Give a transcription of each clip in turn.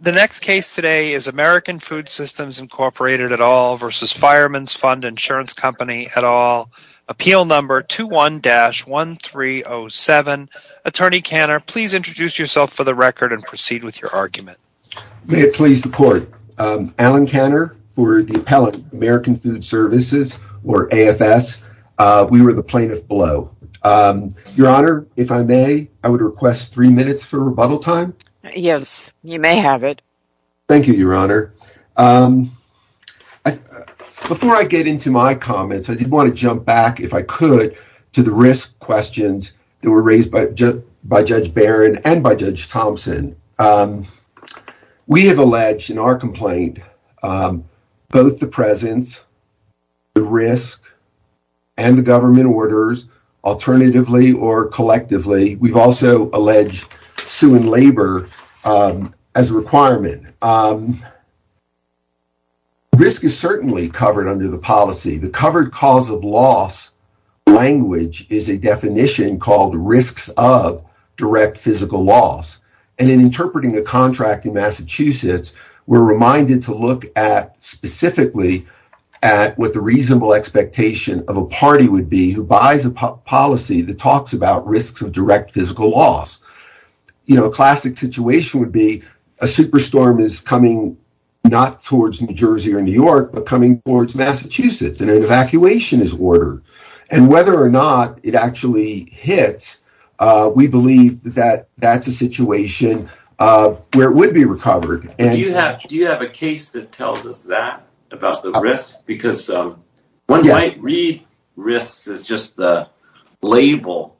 The next case today is American Food Systems, Inc. v. Firemans Fund Insurance Company, et al. Appeal No. 21-1307. Attorney Kanner, please introduce yourself for the record and proceed with your argument. May it please the Court. Alan Kanner for the Appellate American Food Services, or AFS. We were the plaintiff below. Your Honor, if I may, I would request three minutes for rebuttal time. Yes, you may have it. Thank you, Your Honor. Before I get into my comments, I did want to jump back, if I could, to the risk questions that were raised by Judge Barron and by Judge Thompson. We have alleged in our complaint both the presence, the risk, and the government orders, alternatively or collectively. We've also alleged suing labor as a requirement. Risk is certainly covered under the policy. The covered cause of loss language is a definition called risks of direct physical loss. And in interpreting the contract in Massachusetts, we're reminded to look at specifically at what reasonable expectation of a party would be who buys a policy that talks about risks of direct physical loss. A classic situation would be a super storm is coming not towards New Jersey or New York, but coming towards Massachusetts, and an evacuation is ordered. And whether or not it actually hits, we believe that that's a situation where it would be recovered. Do you have a case that tells us that about the risk? Because one might read risks as just the label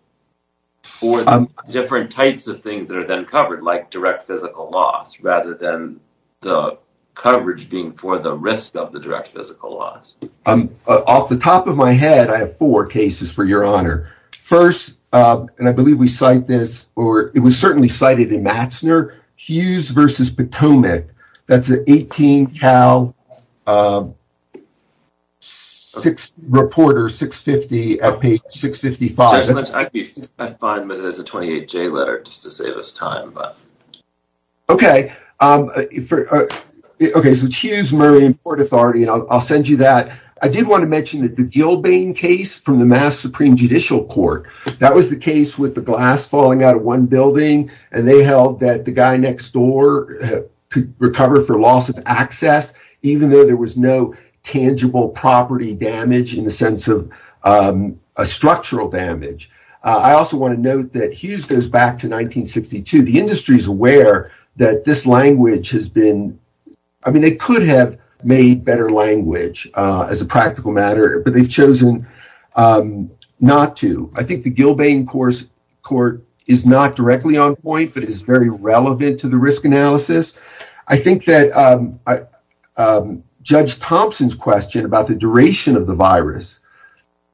for the different types of things that are then covered, like direct physical loss, rather than the coverage being for the risk of the direct physical loss. Off the top of my head, I have four cases for your honor. First, and I believe we cite this, or it was certainly cited in Matzner, Hughes versus Potomac. That's an 18 Cal reporter, 650 at page 655. I could be fine, but there's a 28J letter just to save us time. Okay, so it's Hughes, Murray and Port Authority, and I'll send you that. I did want to mention that the Gilbane case from the Mass Supreme Judicial Court, that was the case with the glass falling out of one building. And they held that the guy next door could recover for loss of access, even though there was no tangible property damage in the sense of a structural damage. I also want to note that Hughes goes back to 1962. The industry is aware that this language has been, I mean, they could have made better language as a practical matter, but they've chosen not to. I think the Gilbane court is not directly on point, but it is very relevant to the risk analysis. I think that Judge Thompson's question about the duration of the virus,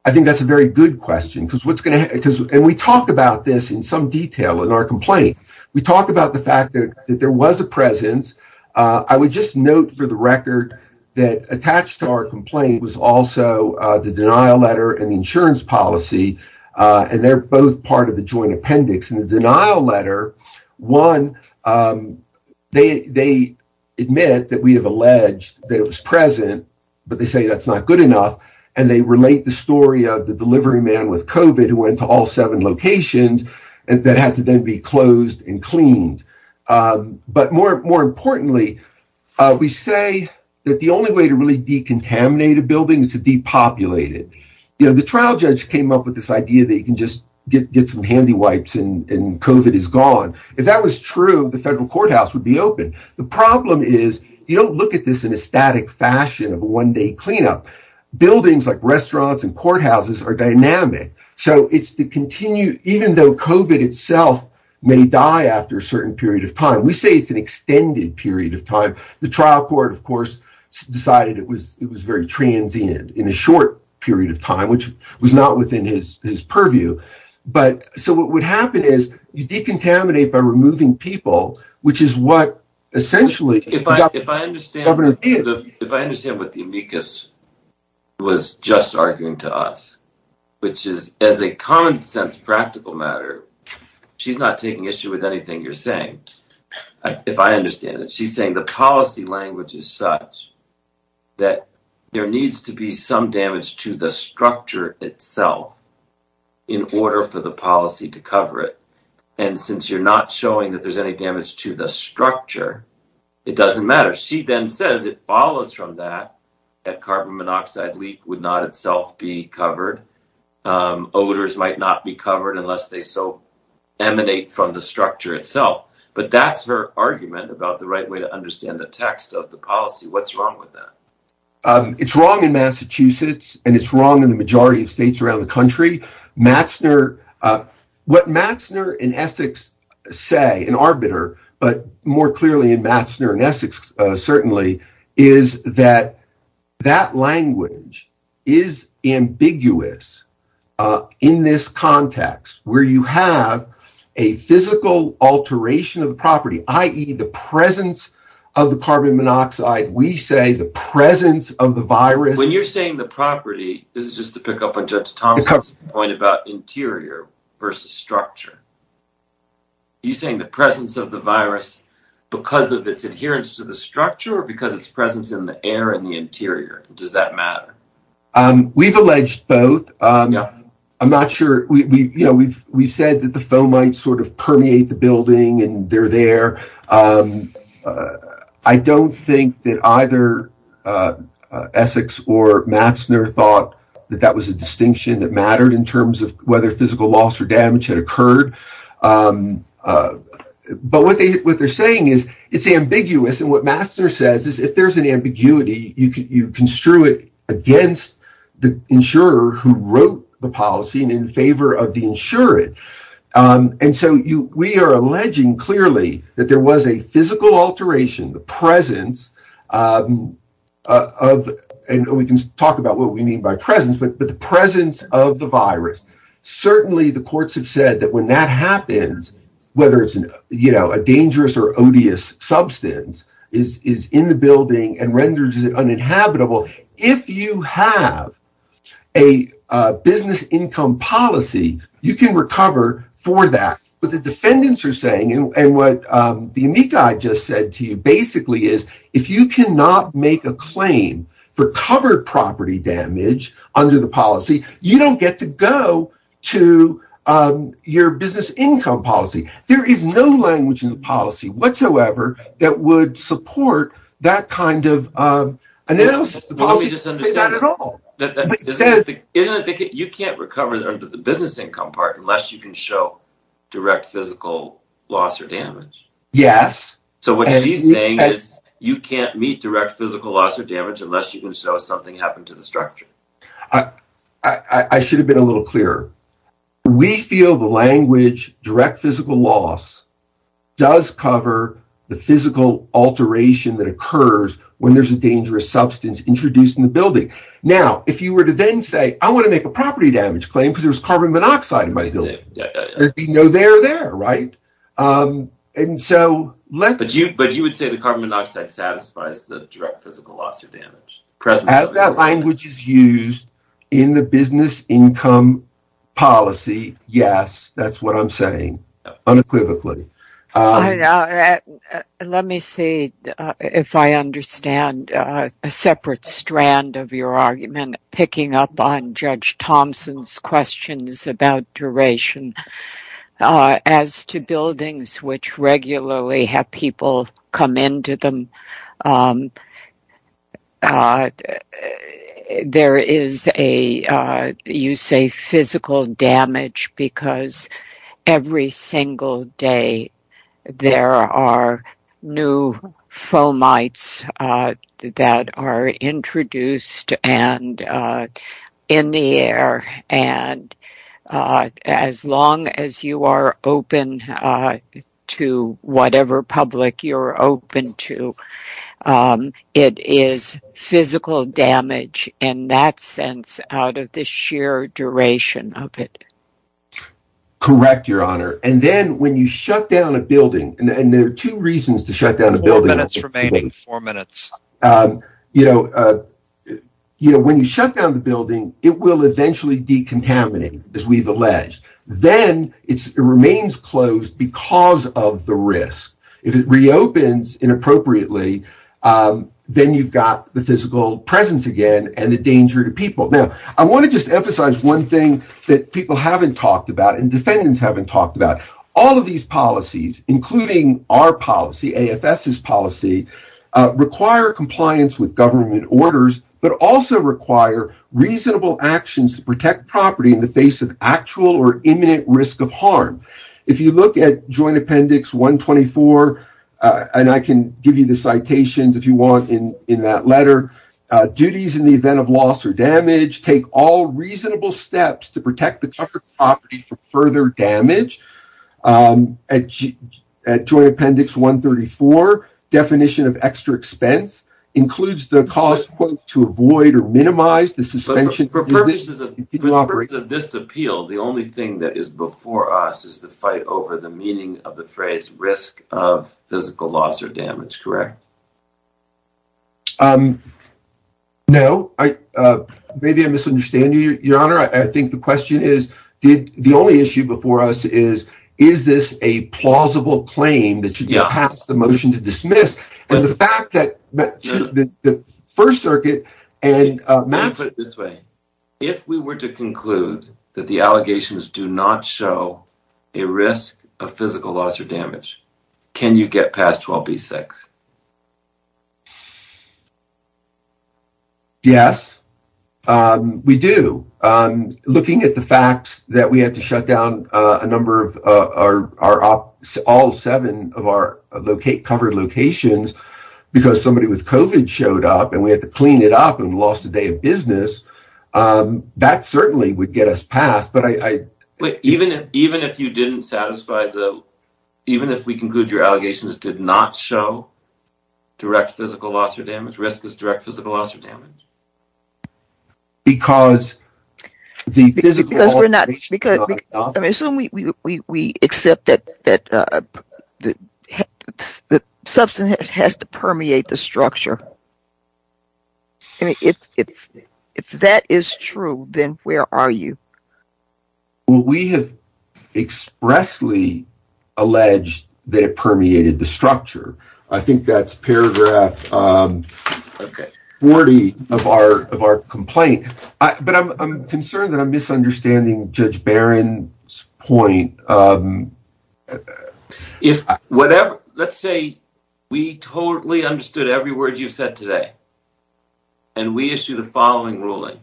I think that's a very good question. And we talk about this in some detail in our complaint. We talk about the fact that there was a presence. I would just note for the record that attached to our complaint was also the denial letter and the insurance policy, and they're both part of the joint appendix. In the denial letter, one, they admit that we have alleged that it was present, but they say that's not good enough. And they relate the story of the delivery man with COVID who went to all seven locations that had to then be closed and cleaned. But more importantly, we say that the only way to really decontaminate a building is to depopulate it. The trial judge came up with this idea that you can just get some handy wipes and COVID is gone. If that was true, the federal courthouse would be open. The problem is you don't look at this in a static fashion of a one day cleanup. Buildings like restaurants and courthouses are dynamic. So it's the continued, even though COVID itself may die after a certain period of time, we say it's an extended period of time. The trial court, of course, decided it was very transient in a short period of time, which was not within his purview. So what would happen is you decontaminate by removing people, which is what essentially if I understand what the amicus was just arguing to us, which is as a common sense, practical matter, she's not taking issue with anything you're saying. If I understand it, she's saying the policy language is such that there needs to be some damage to the structure itself in order for the policy to cover it. And since you're not showing that there's any damage to the structure, it doesn't matter. She then says it follows from that that carbon monoxide leak would not itself be covered. Odors might not be covered unless they so emanate from the structure itself. But that's her argument about the right way to understand the text of the policy. What's wrong with that? It's wrong in Massachusetts, and it's wrong in the majority of states around the country. What Matzner and Essex say, and Arbiter, but more clearly in Matzner and Essex, certainly, is that that language is ambiguous in this context where you have a physical alteration of the property, i.e. the presence of the carbon monoxide. We say the presence of the virus. When you're saying the property, this is just to pick up on Judge Thompson's point about interior versus structure. Are you saying the presence of the virus because of its adherence to the structure or because of its presence in the air and the interior? Does that matter? We've alleged both. I'm not sure. We've said that the foam might sort of permeate the building and they're there. I don't think that either Essex or Matzner thought that that was a distinction that mattered in terms of whether physical loss or damage had occurred. But what they're saying is it's ambiguous. And what Matzner says is if there's an ambiguity, you construe it against the insurer who wrote the policy and in favor of the insured. And so, we are alleging clearly that there was a physical alteration, the presence of, and we can talk about what we mean by presence, but the presence of the virus. Certainly, the courts have said that when that happens, whether it's a dangerous or odious substance, is in the building and renders it uninhabitable. If you have a business income policy, you can recover for that. What the defendants are saying and what the amici just said to you basically is if you not make a claim for covered property damage under the policy, you don't get to go to your business income policy. There is no language in the policy whatsoever that would support that kind of analysis. The policy doesn't say that at all. You can't recover under the business income part unless you can show direct physical loss or damage. Yes. So, what she's saying is you can't meet direct physical loss or damage unless you can show something happened to the structure. I should have been a little clearer. We feel the language direct physical loss does cover the physical alteration that occurs when there's a dangerous substance introduced in the building. Now, if you were to then say, I want to make a property damage claim because there's carbon monoxide in my building, there'd be no there there, right? And so, but you would say the carbon monoxide satisfies the direct physical loss or damage. As that language is used in the business income policy, yes, that's what I'm saying unequivocally. Let me see if I understand a separate strand of your argument picking up on Judge Thompson's questions about duration. As to buildings which regularly have people come into them, there is a, you say, physical damage. As long as you are open to whatever public you're open to, it is physical damage in that sense out of the sheer duration of it. Correct, Your Honor. And then when you shut down a building, and there are two reasons to shut down a building. Four minutes remaining. Four minutes. You know, when you shut down the building, it will eventually decontaminate, as we've alleged. Then it remains closed because of the risk. If it reopens inappropriately, then you've got the physical presence again and the danger to people. Now, I want to just emphasize one thing that people haven't talked about and defendants haven't talked about. All of these policies, including our policy, AFS's policy, require compliance with government orders, but also require reasonable actions to protect property in the face of actual or imminent risk of harm. If you look at Joint Appendix 124, and I can give you the citations if you want in that letter, duties in the event of loss or damage take all reasonable steps to protect the property from further damage. At Joint Appendix 134, definition of extra expense includes the cost to avoid or minimize the suspension. But for purposes of this appeal, the only thing that is before us is the fight over the meaning of the phrase risk of physical loss or damage, correct? No, maybe I'm misunderstanding you, Your Honor. I think the question is, the only issue before us is, is this a plausible claim that should be passed, the motion to dismiss? And the fact that the First Circuit and— Let me put it this way. If we were to conclude that the allegations do not show a risk of physical loss or damage, can you get past 12B6? Yes, we do. Looking at the fact that we had to shut down a number of our—all seven of our covered locations because somebody with COVID showed up and we had to clean it up and lost a day of business, that certainly would get us passed. But I— Wait, even if you didn't satisfy the—even if we conclude your allegations did not show direct physical loss or damage, risk is direct physical loss or damage? Because the physical— Because we're not—I mean, assume we accept that the substance has to permeate the structure. I mean, if that is true, then where are you? Well, we have expressly alleged that it permeated the structure. I think that's paragraph 40 of our complaint. But I'm concerned that I'm misunderstanding Judge Barron's point. If whatever—let's say we totally understood every word you've said today, and we issue the following ruling.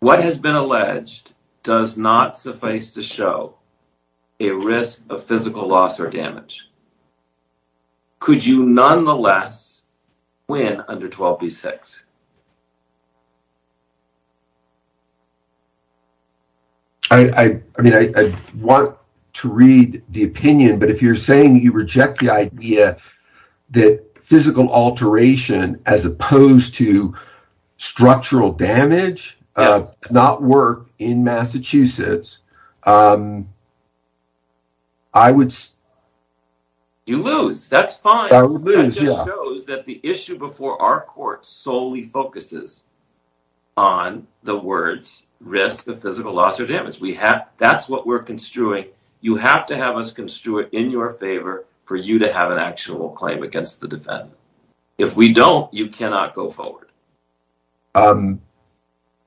What has been alleged does not suffice to show a risk of physical loss or damage. Could you nonetheless win under 12B6? I mean, I want to read the opinion, but if you're saying you reject the idea that physical alteration as opposed to structural damage does not work in Massachusetts, I would— You lose. That's fine. I would lose, yeah. That just shows that the issue before our court solely focuses on the words risk of physical loss or damage. That's what we're construing. You have to have us construe it in your favor for you to have an actual claim against the defendant. If we don't, you cannot go forward.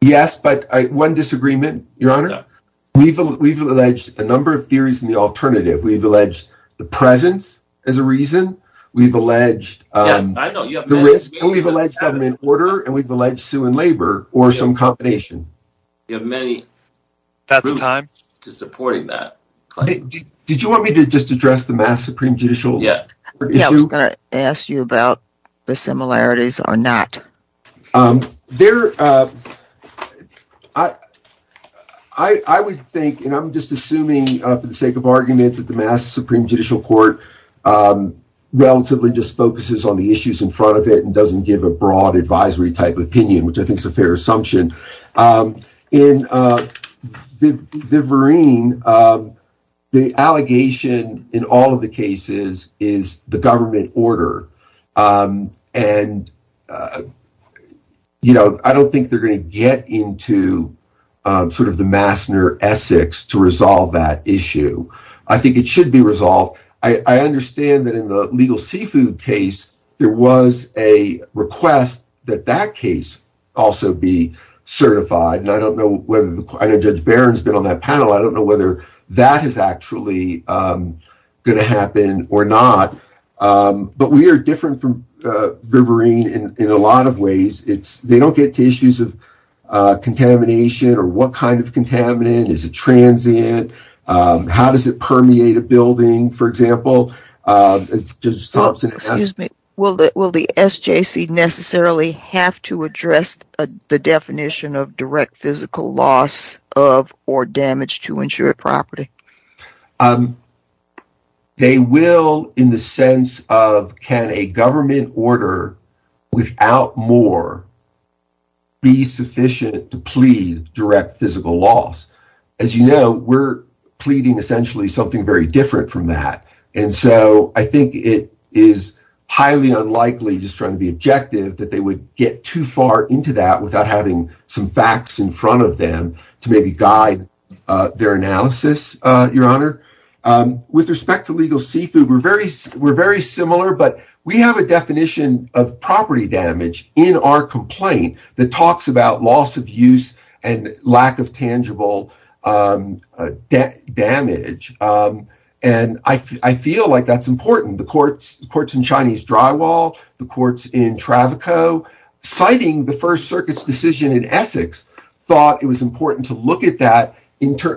Yes, but one disagreement, Your Honor. We've alleged a number of theories in the alternative. We've alleged the presence as a reason. We've alleged the risk, and we've alleged government order, and we've alleged sue and labor or some combination. You have many— That's time. —to supporting that claim. Did you want me to just address the Mass Supreme Judicial Court issue? Yeah, I was going to ask you about the similarities or not. I would think, and I'm just assuming for the sake of argument that the Mass Supreme Judicial Court relatively just focuses on the issues in front of it and doesn't give a broad advisory type opinion, which I think is a fair assumption. In Viverine, the allegation in all of the cases is the government order, and I don't think they're going to get into sort of the Massner-Essex to resolve that issue. I think it should be resolved. I understand that in the legal seafood case, there was a request that that case also be certified, and I don't know whether the— I know Judge Barron's been on that panel. I don't know whether that is actually going to happen or not, but we are different from Viverine in a lot of ways. They don't get to issues of contamination or what kind of contaminant. Is it transient? How does it permeate a building, for example? Excuse me. Will the SJC necessarily have to address the definition of direct physical loss of or damage to insured property? They will in the sense of, can a government order without more be sufficient to plead direct physical loss? As you know, we're pleading essentially something very different from that, and so I think it is highly unlikely, just trying to be objective, that they would get too far into that without having some facts in front of them to maybe guide their analysis, Your Honor. With respect to legal seafood, we're very similar, but we have a definition of property damage in our complaint that talks about loss of use and lack of tangible damage, and I feel like that's important. The courts in Chinese Drywall, the courts in Travico, citing the First Circuit's decision in Essex, thought it was important to look at that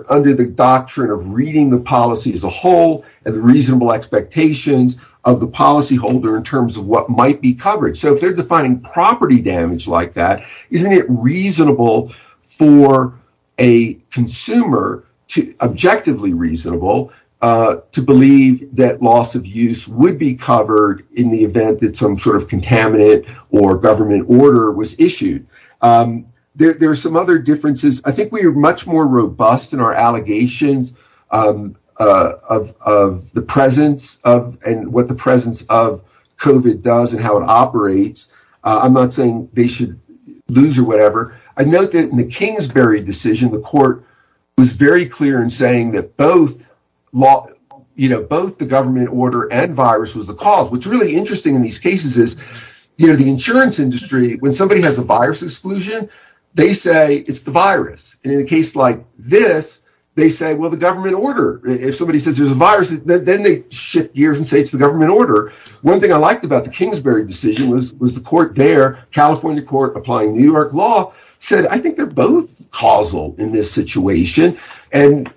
under the doctrine of reading the policy as a whole and the reasonable expectations of the policyholder in terms of what might be covered. So if they're defining property damage like that, isn't it reasonable for a consumer, objectively reasonable, to believe that loss of use would be covered in the event that some sort of contaminant or government order was issued? There are some other differences. I think we are much more robust in our allegations of the presence of I'm not saying they should lose or whatever. I note that in the Kingsbury decision, the court was very clear in saying that both the government order and virus was the cause. What's really interesting in these cases is the insurance industry, when somebody has a virus exclusion, they say it's the virus. And in a case like this, they say, well, the government order. If somebody says there's a virus, then they shift gears and say it's the government order. One thing I liked about the Kingsbury decision was the court there, California court applying New York law, said I think they're both causal in this situation. And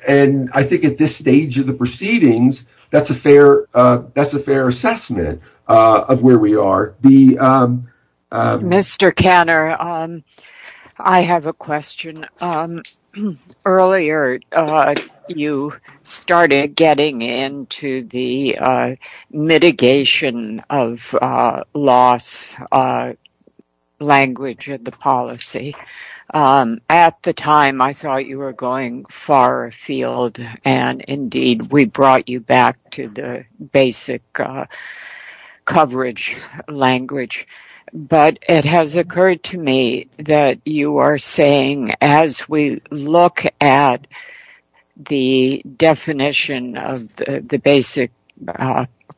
I think at this stage of the proceedings, that's a fair assessment of where we are. Mr. Kanner, I have a question. Earlier, you started getting into the mitigation of loss language of the policy. At the time, I thought you were going far afield. And indeed, we brought you back to the basic coverage language. But it has occurred to me that you are saying, as we look at the definition of the basic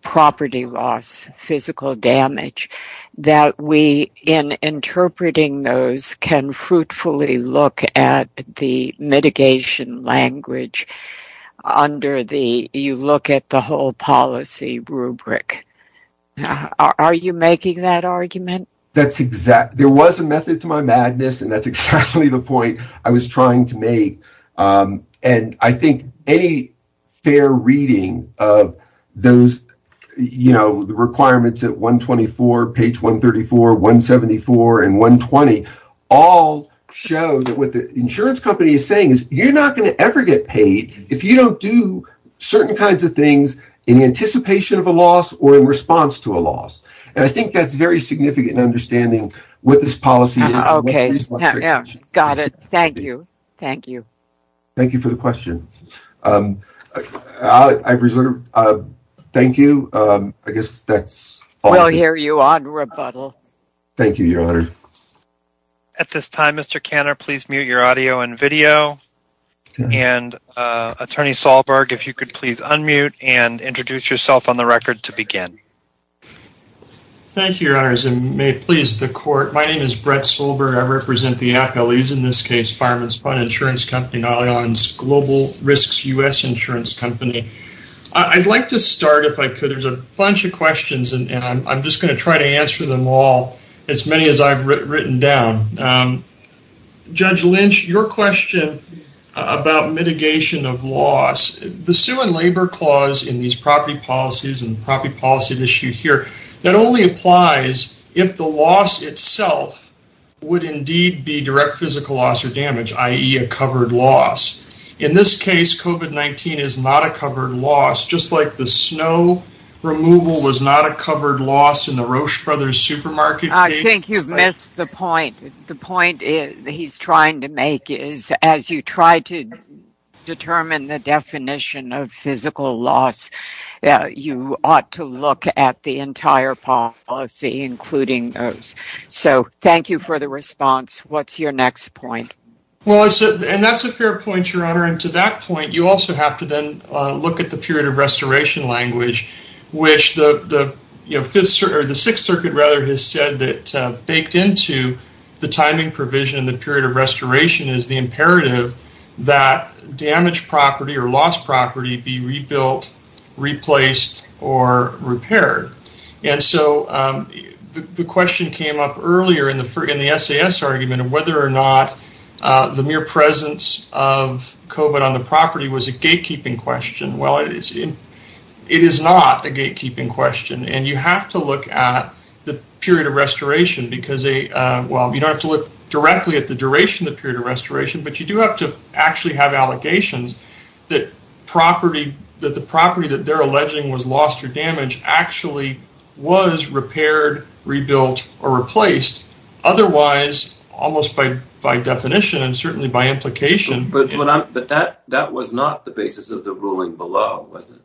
property loss, physical damage, that we, in interpreting those, can fruitfully look at the mitigation language under the you look at the whole policy rubric. Now, are you making that argument? That's exact. There was a method to my madness. And that's exactly the point I was trying to make. And I think any fair reading of those requirements at 124, page 134, 174, and 120, all show that what the insurance company is saying is you're not going to ever get paid if you don't do certain kinds of things in anticipation of a loss or in response to a loss. And I think that's very significant in understanding what this policy is. Got it. Thank you. Thank you. Thank you for the question. I've reserved. Thank you. I guess that's all. We'll hear you on rebuttal. Thank you, Your Honor. At this time, Mr. Kanner, please mute your audio and video. And Attorney Solberg, if you could please unmute and introduce yourself on the record to begin. Thank you, Your Honors. And may it please the court. My name is Brett Solberg. I represent the FLEs, in this case, Fireman's Fund Insurance Company, Nylion's Global Risks U.S. Insurance Company. I'd like to start, if I could. There's a bunch of questions, and I'm just going to try to answer them all, as many as I've written down. Um, Judge Lynch, your question about mitigation of loss. The Sue and Labor Clause in these property policies and property policy issue here, that only applies if the loss itself would indeed be direct physical loss or damage, i.e. a covered loss. In this case, COVID-19 is not a covered loss, just like the snow removal was not a covered loss in the Roche Brothers Supermarket case. I think you've missed the point. The point he's trying to make is, as you try to determine the definition of physical loss, you ought to look at the entire policy, including those. So, thank you for the response. What's your next point? Well, and that's a fair point, Your Honor. And to that point, you also have to then look at the period of restoration language, which the Sixth Circuit has said that baked into the timing provision in the period of restoration is the imperative that damaged property or lost property be rebuilt, replaced, or repaired. And so, the question came up earlier in the SAS argument of whether or not the mere presence of COVID on the property was a gatekeeping question. Well, it is not a gatekeeping question, and you have to look at the period of restoration because, well, you don't have to look directly at the duration of the period of restoration, but you do have to actually have allegations that the property that they're alleging was lost or damaged actually was repaired, rebuilt, or replaced, otherwise, almost by definition and certainly by implication. But that was not the basis of the ruling below, was it?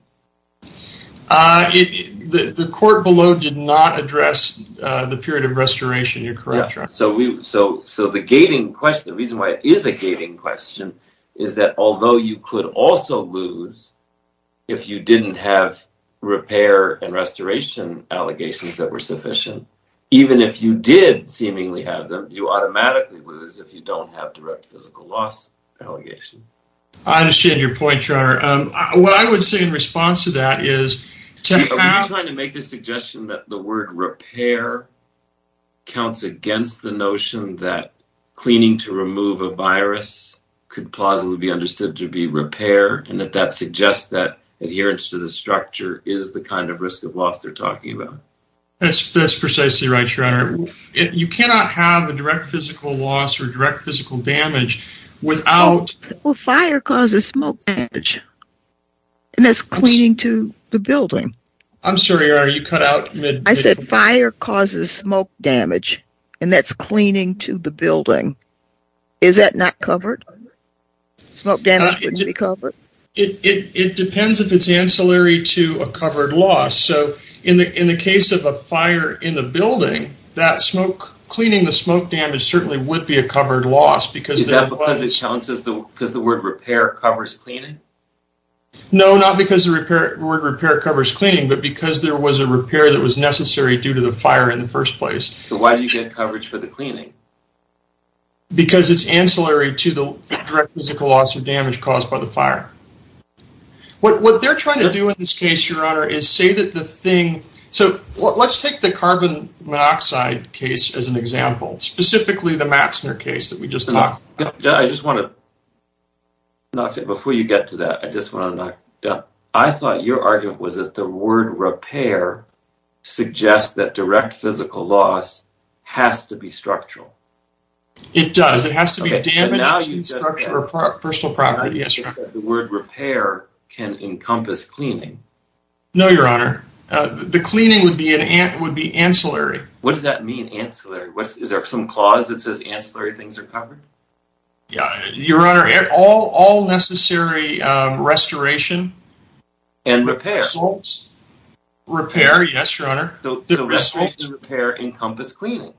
The court below did not address the period of restoration, you're correct, Your Honor. So, the reason why it is a gating question is that although you could also lose if you didn't have repair and restoration allegations that were sufficient, even if you did seemingly have them, you automatically lose if you don't have direct physical loss allegation. I understand your point, Your Honor. What I would say in response to that is to have… Are you trying to make the suggestion that the word repair counts against the notion that cleaning to remove a virus could plausibly be understood to be repair and that that suggests that adherence to the structure is the kind of risk of loss they're talking about? That's precisely right, Your Honor. You cannot have a direct physical loss or direct physical damage without… Well, fire causes smoke damage, and that's cleaning to the building. I'm sorry, Your Honor, you cut out mid… I said fire causes smoke damage, and that's cleaning to the building. Is that not covered? Smoke damage wouldn't be covered? It depends if it's ancillary to a covered loss. In the case of a fire in a building, cleaning the smoke damage certainly would be a covered loss. Is that because the word repair covers cleaning? No, not because the word repair covers cleaning, but because there was a repair that was necessary due to the fire in the first place. Why do you get coverage for the cleaning? Because it's ancillary to the direct physical loss or damage caused by the fire. What they're trying to do in this case, Your Honor, is say that the thing… So, let's take the carbon monoxide case as an example, specifically the Maxner case that we just talked about. I just want to… Before you get to that, I just want to… I thought your argument was that the word repair suggests that direct physical loss has to be structural. It does. It has to be damaged in structure or personal property. Yes, Your Honor. The word repair can encompass cleaning. No, Your Honor. The cleaning would be ancillary. What does that mean, ancillary? Is there some clause that says ancillary things are covered? Yeah. Your Honor, all necessary restoration… And repair. …results… Repair, yes, Your Honor. The results… The restoration and repair encompass cleaning.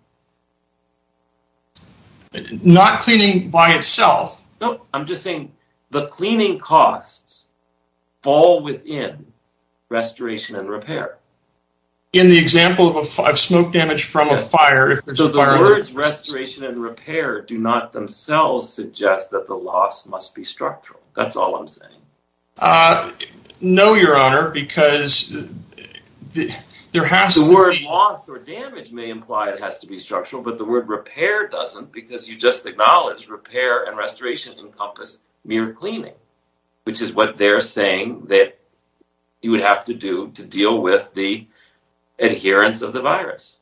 Not cleaning by itself. No, I'm just saying the cleaning costs fall within restoration and repair. In the example of smoke damage from a fire… So, the words restoration and repair do not themselves suggest that the loss must be structural. That's all I'm saying. No, Your Honor, because there has to be… The word loss or damage may imply it has to be structural, but the word repair doesn't, because you just acknowledged repair and restoration encompass mere cleaning, which is what they're saying that you would have to do to deal with the adherence of the virus.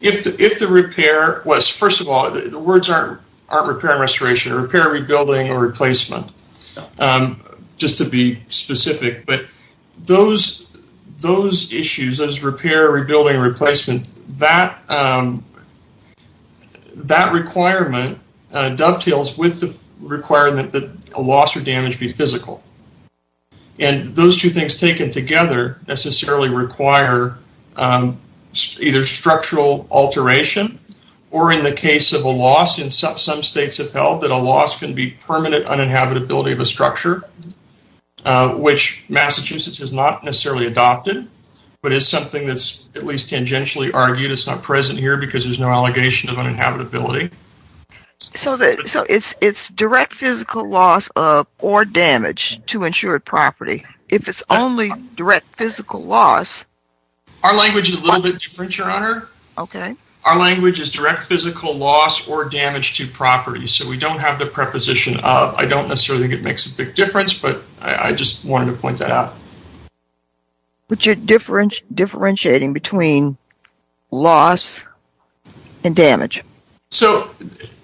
If the repair was… First of all, the words aren't repair and restoration. Repair, rebuilding, or replacement, just to be specific. Those issues, those repair, rebuilding, replacement, that requirement dovetails with the requirement that a loss or damage be physical. Those two things taken together necessarily require either structural alteration or, in the case of a loss, in some states have held that a loss can be permanent uninhabitability of a structure, which Massachusetts has not necessarily adopted, but it's something that's at least tangentially argued it's not present here because there's no allegation of uninhabitability. So, it's direct physical loss or damage to insured property. If it's only direct physical loss… Our language is a little bit different, Your Honor. Okay. Our language is direct physical loss or damage to property, so we don't have the preposition of. I don't necessarily think it makes a big difference, but I just wanted to point that out. But you're differentiating between loss and damage. So,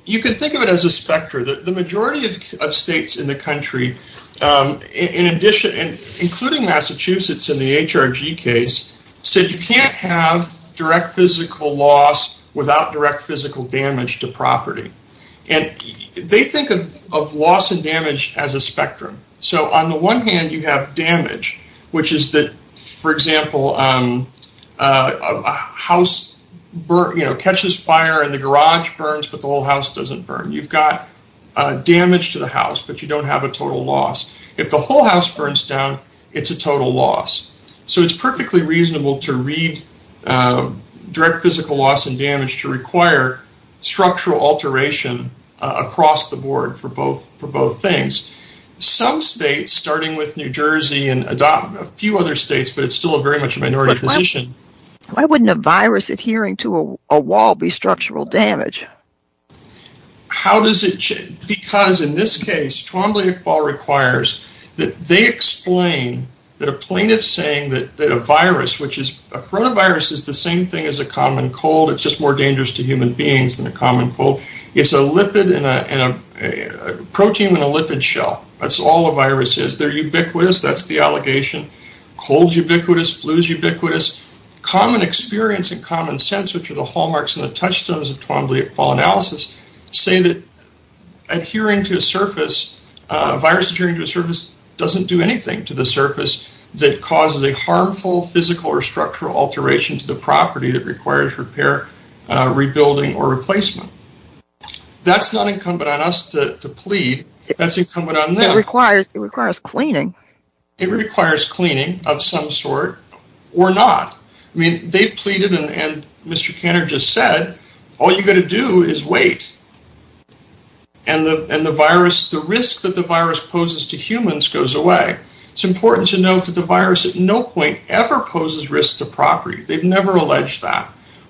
you can think of it as a specter. The majority of states in the country, including Massachusetts in the HRG case, said you can't have direct physical loss without direct physical damage to property. And they think of loss and damage as a spectrum. So, on the one hand, you have damage, which is that, for example, a house catches fire and the garage burns, but the whole house doesn't burn. You've got damage to the house, but you don't have a total loss. If the whole house burns down, it's a total loss. So, it's perfectly reasonable to read direct physical loss and damage to require structural alteration across the board for both things. Some states, starting with New Jersey and a few other states, but it's still very much a minority position. Why wouldn't a virus adhering to a wall be structural damage? How does it change? Because in this case, Twombly-Iqbal requires that they explain that a plaintiff saying that a virus, which is a coronavirus, is the same thing as a common cold. It's just more dangerous to human beings than a common cold. It's a lipid and a protein in a lipid shell. That's all a virus is. They're ubiquitous. That's the allegation. Cold's ubiquitous. Flu's ubiquitous. Common experience and common sense, which are the hallmarks and the touchstones of Twombly-Iqbal analysis, say that adhering to a surface, a virus adhering to a surface doesn't do anything to the surface that causes a harmful physical or structural alteration to the property that requires repair, rebuilding, or replacement. That's not incumbent on us to plead. That's incumbent on them. It requires cleaning. It requires cleaning of some sort or not. I mean, they've pleaded and Mr. Kanner just said, all you got to do is wait. And the virus, the risk that the virus poses to humans goes away. It's important to note that the virus at no point ever poses risk to property. They've never alleged that.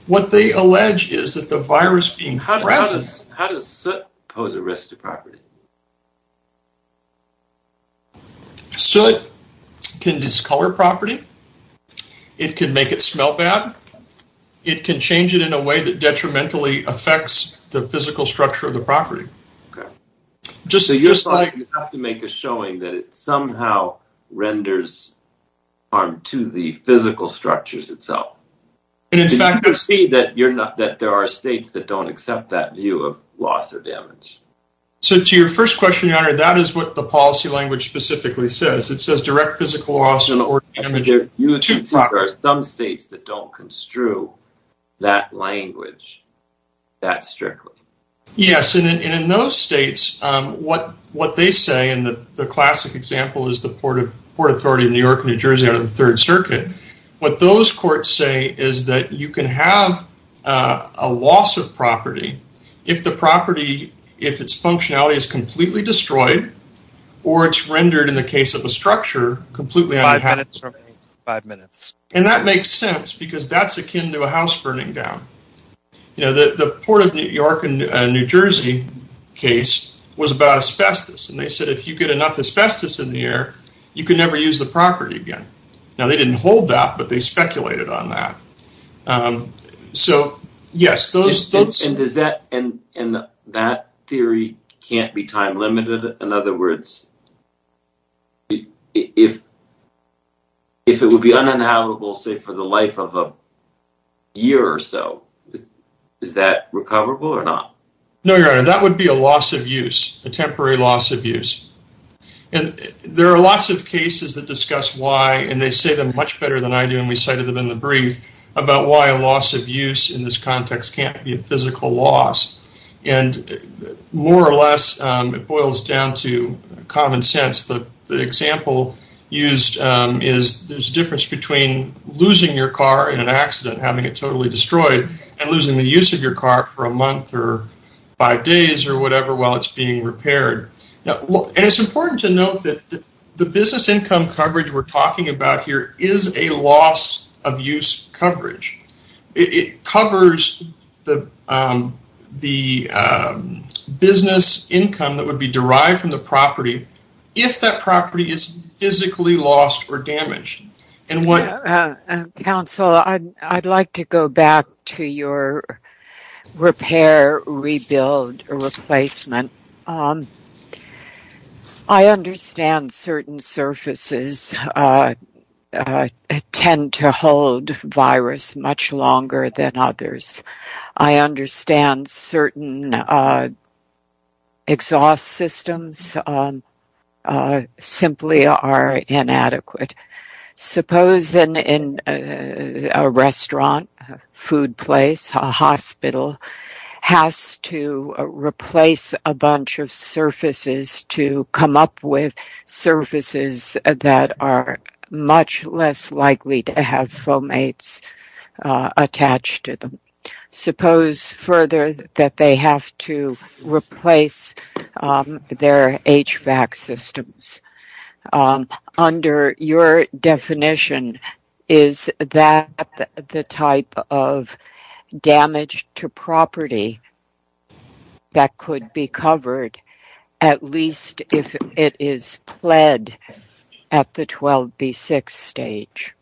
What they allege is that the virus being present— How does soot pose a risk to property? Soot can discolor property. It can make it smell bad. It can change it in a way that detrimentally affects the physical structure of the property. Okay. So you're saying you have to make a showing that it somehow renders harm to the physical structures itself. And in fact— You can see that there are states that don't accept that view of loss or damage. So to your first question, your honor, that is what the policy language specifically says. It says direct physical loss or damage to property. There are some states that don't construe that language that strictly. Yes. And in those states, what they say, and the classic example is the Port Authority of New York, what those courts say is that you can have a loss of property if the property, if its functionality is completely destroyed or it's rendered in the case of a structure completely— Five minutes remaining. Five minutes. And that makes sense because that's akin to a house burning down. The Port of New York and New Jersey case was about asbestos. And they said if you get enough asbestos in the air, you can never use the property again. Now, they didn't hold that, but they speculated on that. So, yes, those— And does that—and that theory can't be time limited? In other words, if it would be uninhabitable, say, for the life of a year or so, is that recoverable or not? No, your honor, that would be a loss of use, a temporary loss of use. And there are lots of cases that discuss why, and they say them much better than I do, and we cited them in the brief, about why a loss of use in this context can't be a physical loss. And more or less, it boils down to common sense. The example used is there's a difference between losing your car in an accident, having it totally destroyed, and losing the use of your car for a month or five days or whatever while it's being repaired. And it's important to note that the business income coverage we're talking about here is a loss of use coverage. It covers the business income that would be derived from the property if that property is physically lost or damaged. Counsel, I'd like to go back to your repair, rebuild, or replacement. I understand certain surfaces tend to hold virus much longer than others. I understand certain exhaust systems simply are inadequate. Suppose in a restaurant, a food place, a hospital has to replace a bunch of surfaces to come up with surfaces that are much less likely to have fomates attached to them. Suppose further that they have to replace their HVAC systems. Under your definition, is that the type of damage to property that could be covered at least if it is pled at the 12B6 stage?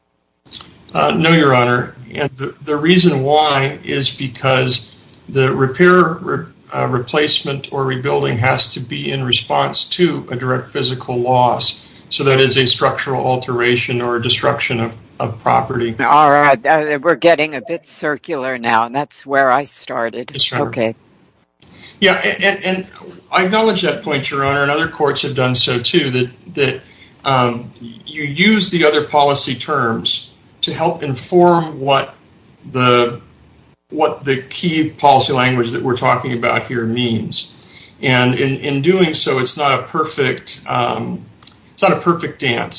No, Your Honor. The reason why is because the repair, replacement, or rebuilding has to be in response to a physical loss. So that is a structural alteration or destruction of property. We're getting a bit circular now, and that's where I started. Yeah, and I acknowledge that point, Your Honor, and other courts have done so too. You use the other policy terms to help inform what the key policy language that we're talking about here means. And in doing so, it's not a perfect dance.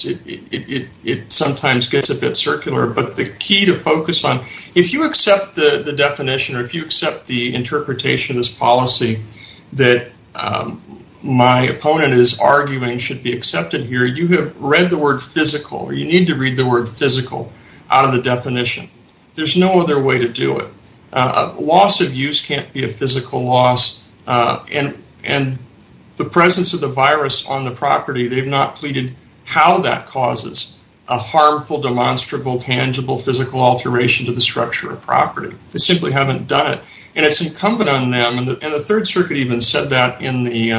It sometimes gets a bit circular. But the key to focus on, if you accept the definition or if you accept the interpretation of this policy that my opponent is arguing should be accepted here, you have read the word physical. You need to read the word physical out of the definition. There's no other way to do it. Loss of use can't be a physical loss, and the presence of the virus on the property, they've not pleaded how that causes a harmful, demonstrable, tangible physical alteration to the structure of property. They simply haven't done it. And it's incumbent on them, and the Third Circuit even said that in the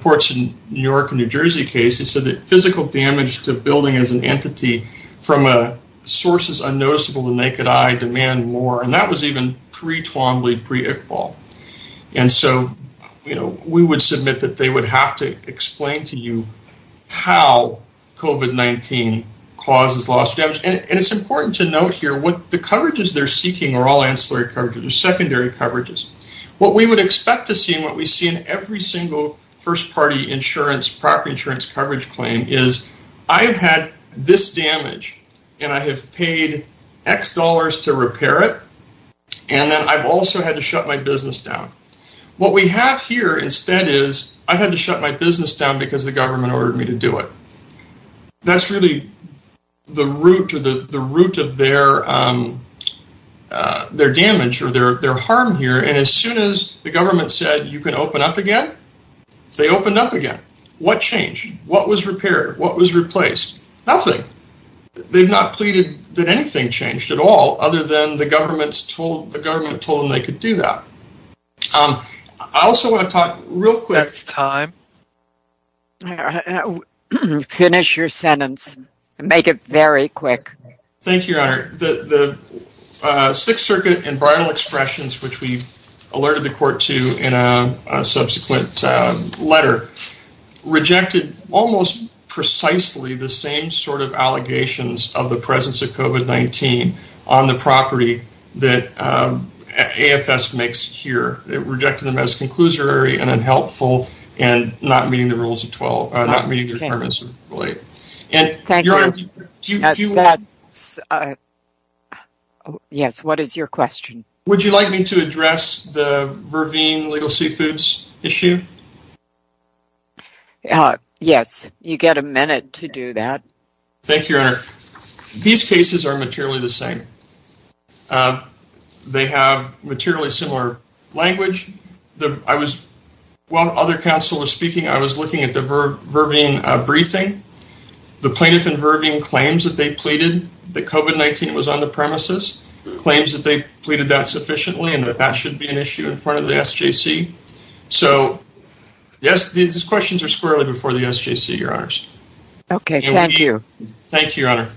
Ports of New York and New Jersey case. It said that physical damage to a building as an entity from sources unnoticeable to the naked eye demand more. And that was even pre-Twombly, pre-Iqbal. And so we would submit that they would have to explain to you how COVID-19 causes loss of damage. And it's important to note here what the coverages they're seeking are all ancillary coverages or secondary coverages. What we would expect to see and what we see in every single first-party property insurance coverage claim is, I've had this damage, and I have paid X dollars to repair it, and then I've also had to shut my business down. What we have here instead is, I've had to shut my business down because the government ordered me to do it. That's really the root of their damage or their harm here. And as soon as the government said, you can open up again, they opened up again. What changed? What was repaired? What was replaced? Nothing. They've not pleaded that anything changed at all other than the government told them they could do that. I also want to talk real quick. It's time. Finish your sentence. Make it very quick. Thank you, Your Honor. The Sixth Circuit and viral expressions, which we alerted the court to in a subsequent letter, rejected almost precisely the same sort of allegations of the presence of COVID-19 on the property that AFS makes here. It rejected them as conclusory and unhelpful and not meeting the rules of 12. Yes, what is your question? Would you like me to address the Verveen Legal Seafoods issue? Uh, yes, you get a minute to do that. Thank you, Your Honor. These cases are materially the same. They have materially similar language. I was, while other counsel was speaking, I was looking at the Verveen briefing. The plaintiff in Verveen claims that they pleaded that COVID-19 was on the premises, claims that they pleaded that sufficiently and that that should be an issue in front of the SJC. So, yes, these questions are squarely before the SJC, Your Honors. Okay, thank you. Thank you, Your Honor.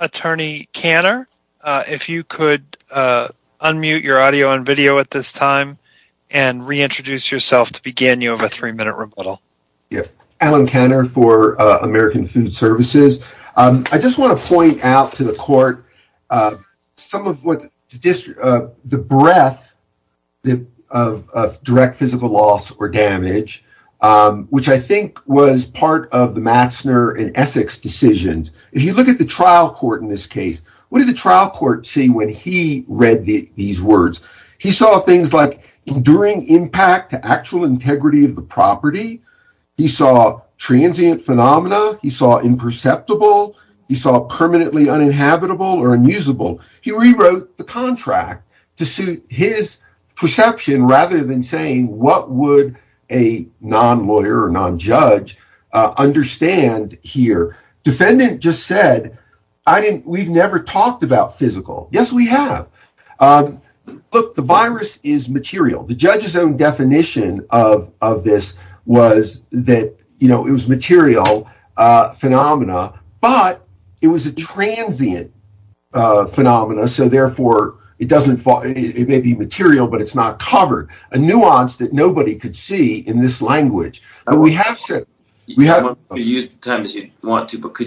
Attorney Kanner, if you could unmute your audio and video at this time and reintroduce yourself to begin, you have a three-minute rebuttal. Yeah, Alan Kanner for American Food Services. I just want to point out to the court some of the breadth of direct physical loss or damage, which I think was part of the Matsner and Essex decisions. If you look at the trial court in this case, what did the trial court see when he read these words? He saw things like enduring impact to actual integrity of the property. He saw transient phenomena. He saw imperceptible. He saw permanently uninhabitable or unusable. He rewrote the contract to suit his perception rather than saying, what would a non-lawyer or non-judge understand here? Defendant just said, we've never talked about physical. Yes, we have. Look, the virus is material. The judge's own definition of this was that it was material phenomena, but it was a transient phenomena. So, therefore, it may be material, but it's not covered. A nuance that nobody could see in this language. Could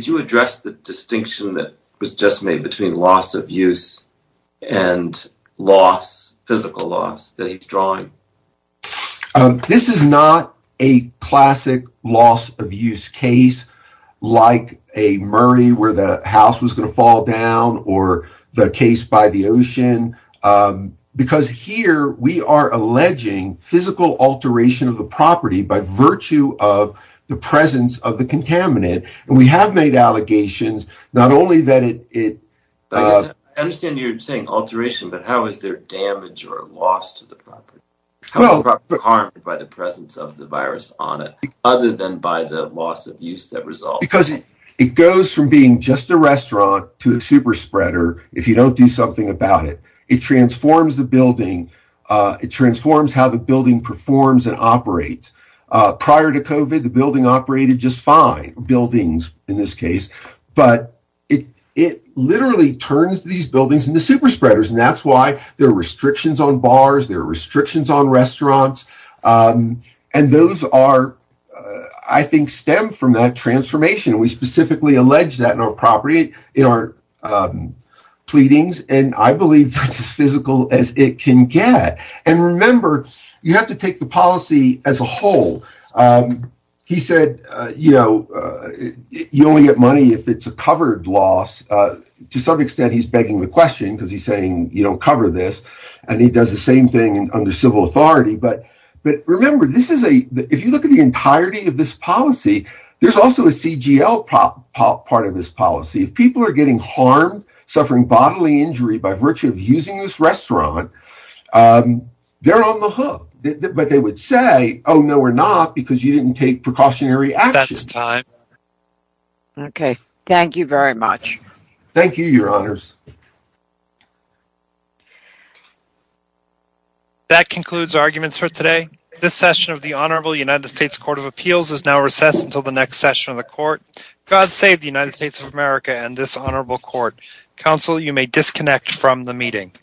you address the distinction that was just made between loss of use and physical loss that he's drawing? This is not a classic loss of use case, like a Murray where the house was going to fall down or the case by the ocean, because here we are alleging physical alteration of the property by virtue of the presence of the contaminant. We have made allegations, not only that it. I understand you're saying alteration, but how is there damage or loss to the property? How is the property harmed by the presence of the virus on it, other than by the loss of use that results? Because it goes from being just a restaurant to a super spreader. If you don't do something about it, it transforms the building. It transforms how the building performs and operates. Prior to COVID, the building operated just fine buildings in this case, but it literally turns these buildings into super spreaders. And that's why there are restrictions on bars. There are restrictions on restaurants. And those are, I think, stem from that transformation. We specifically allege that in our property, in our pleadings. And I believe that's as physical as it can get. And remember, you have to take the policy as a whole. He said, you only get money if it's a covered loss. To some extent, he's begging the question because he's saying you don't cover this. And he does the same thing under civil authority. But remember, if you look at the entirety of this policy, there's also a CGL part of this policy. If people are getting harmed, suffering bodily injury by virtue of using this restaurant, they're on the hook. But they would say, oh, no, we're not. Because you didn't take precautionary action. That's time. Okay. Thank you very much. Thank you, your honors. That concludes arguments for today. This session of the Honorable United States Court of Appeals is now recessed until the next session of the court. God save the United States of America and this honorable court. Counsel, you may disconnect from the meeting.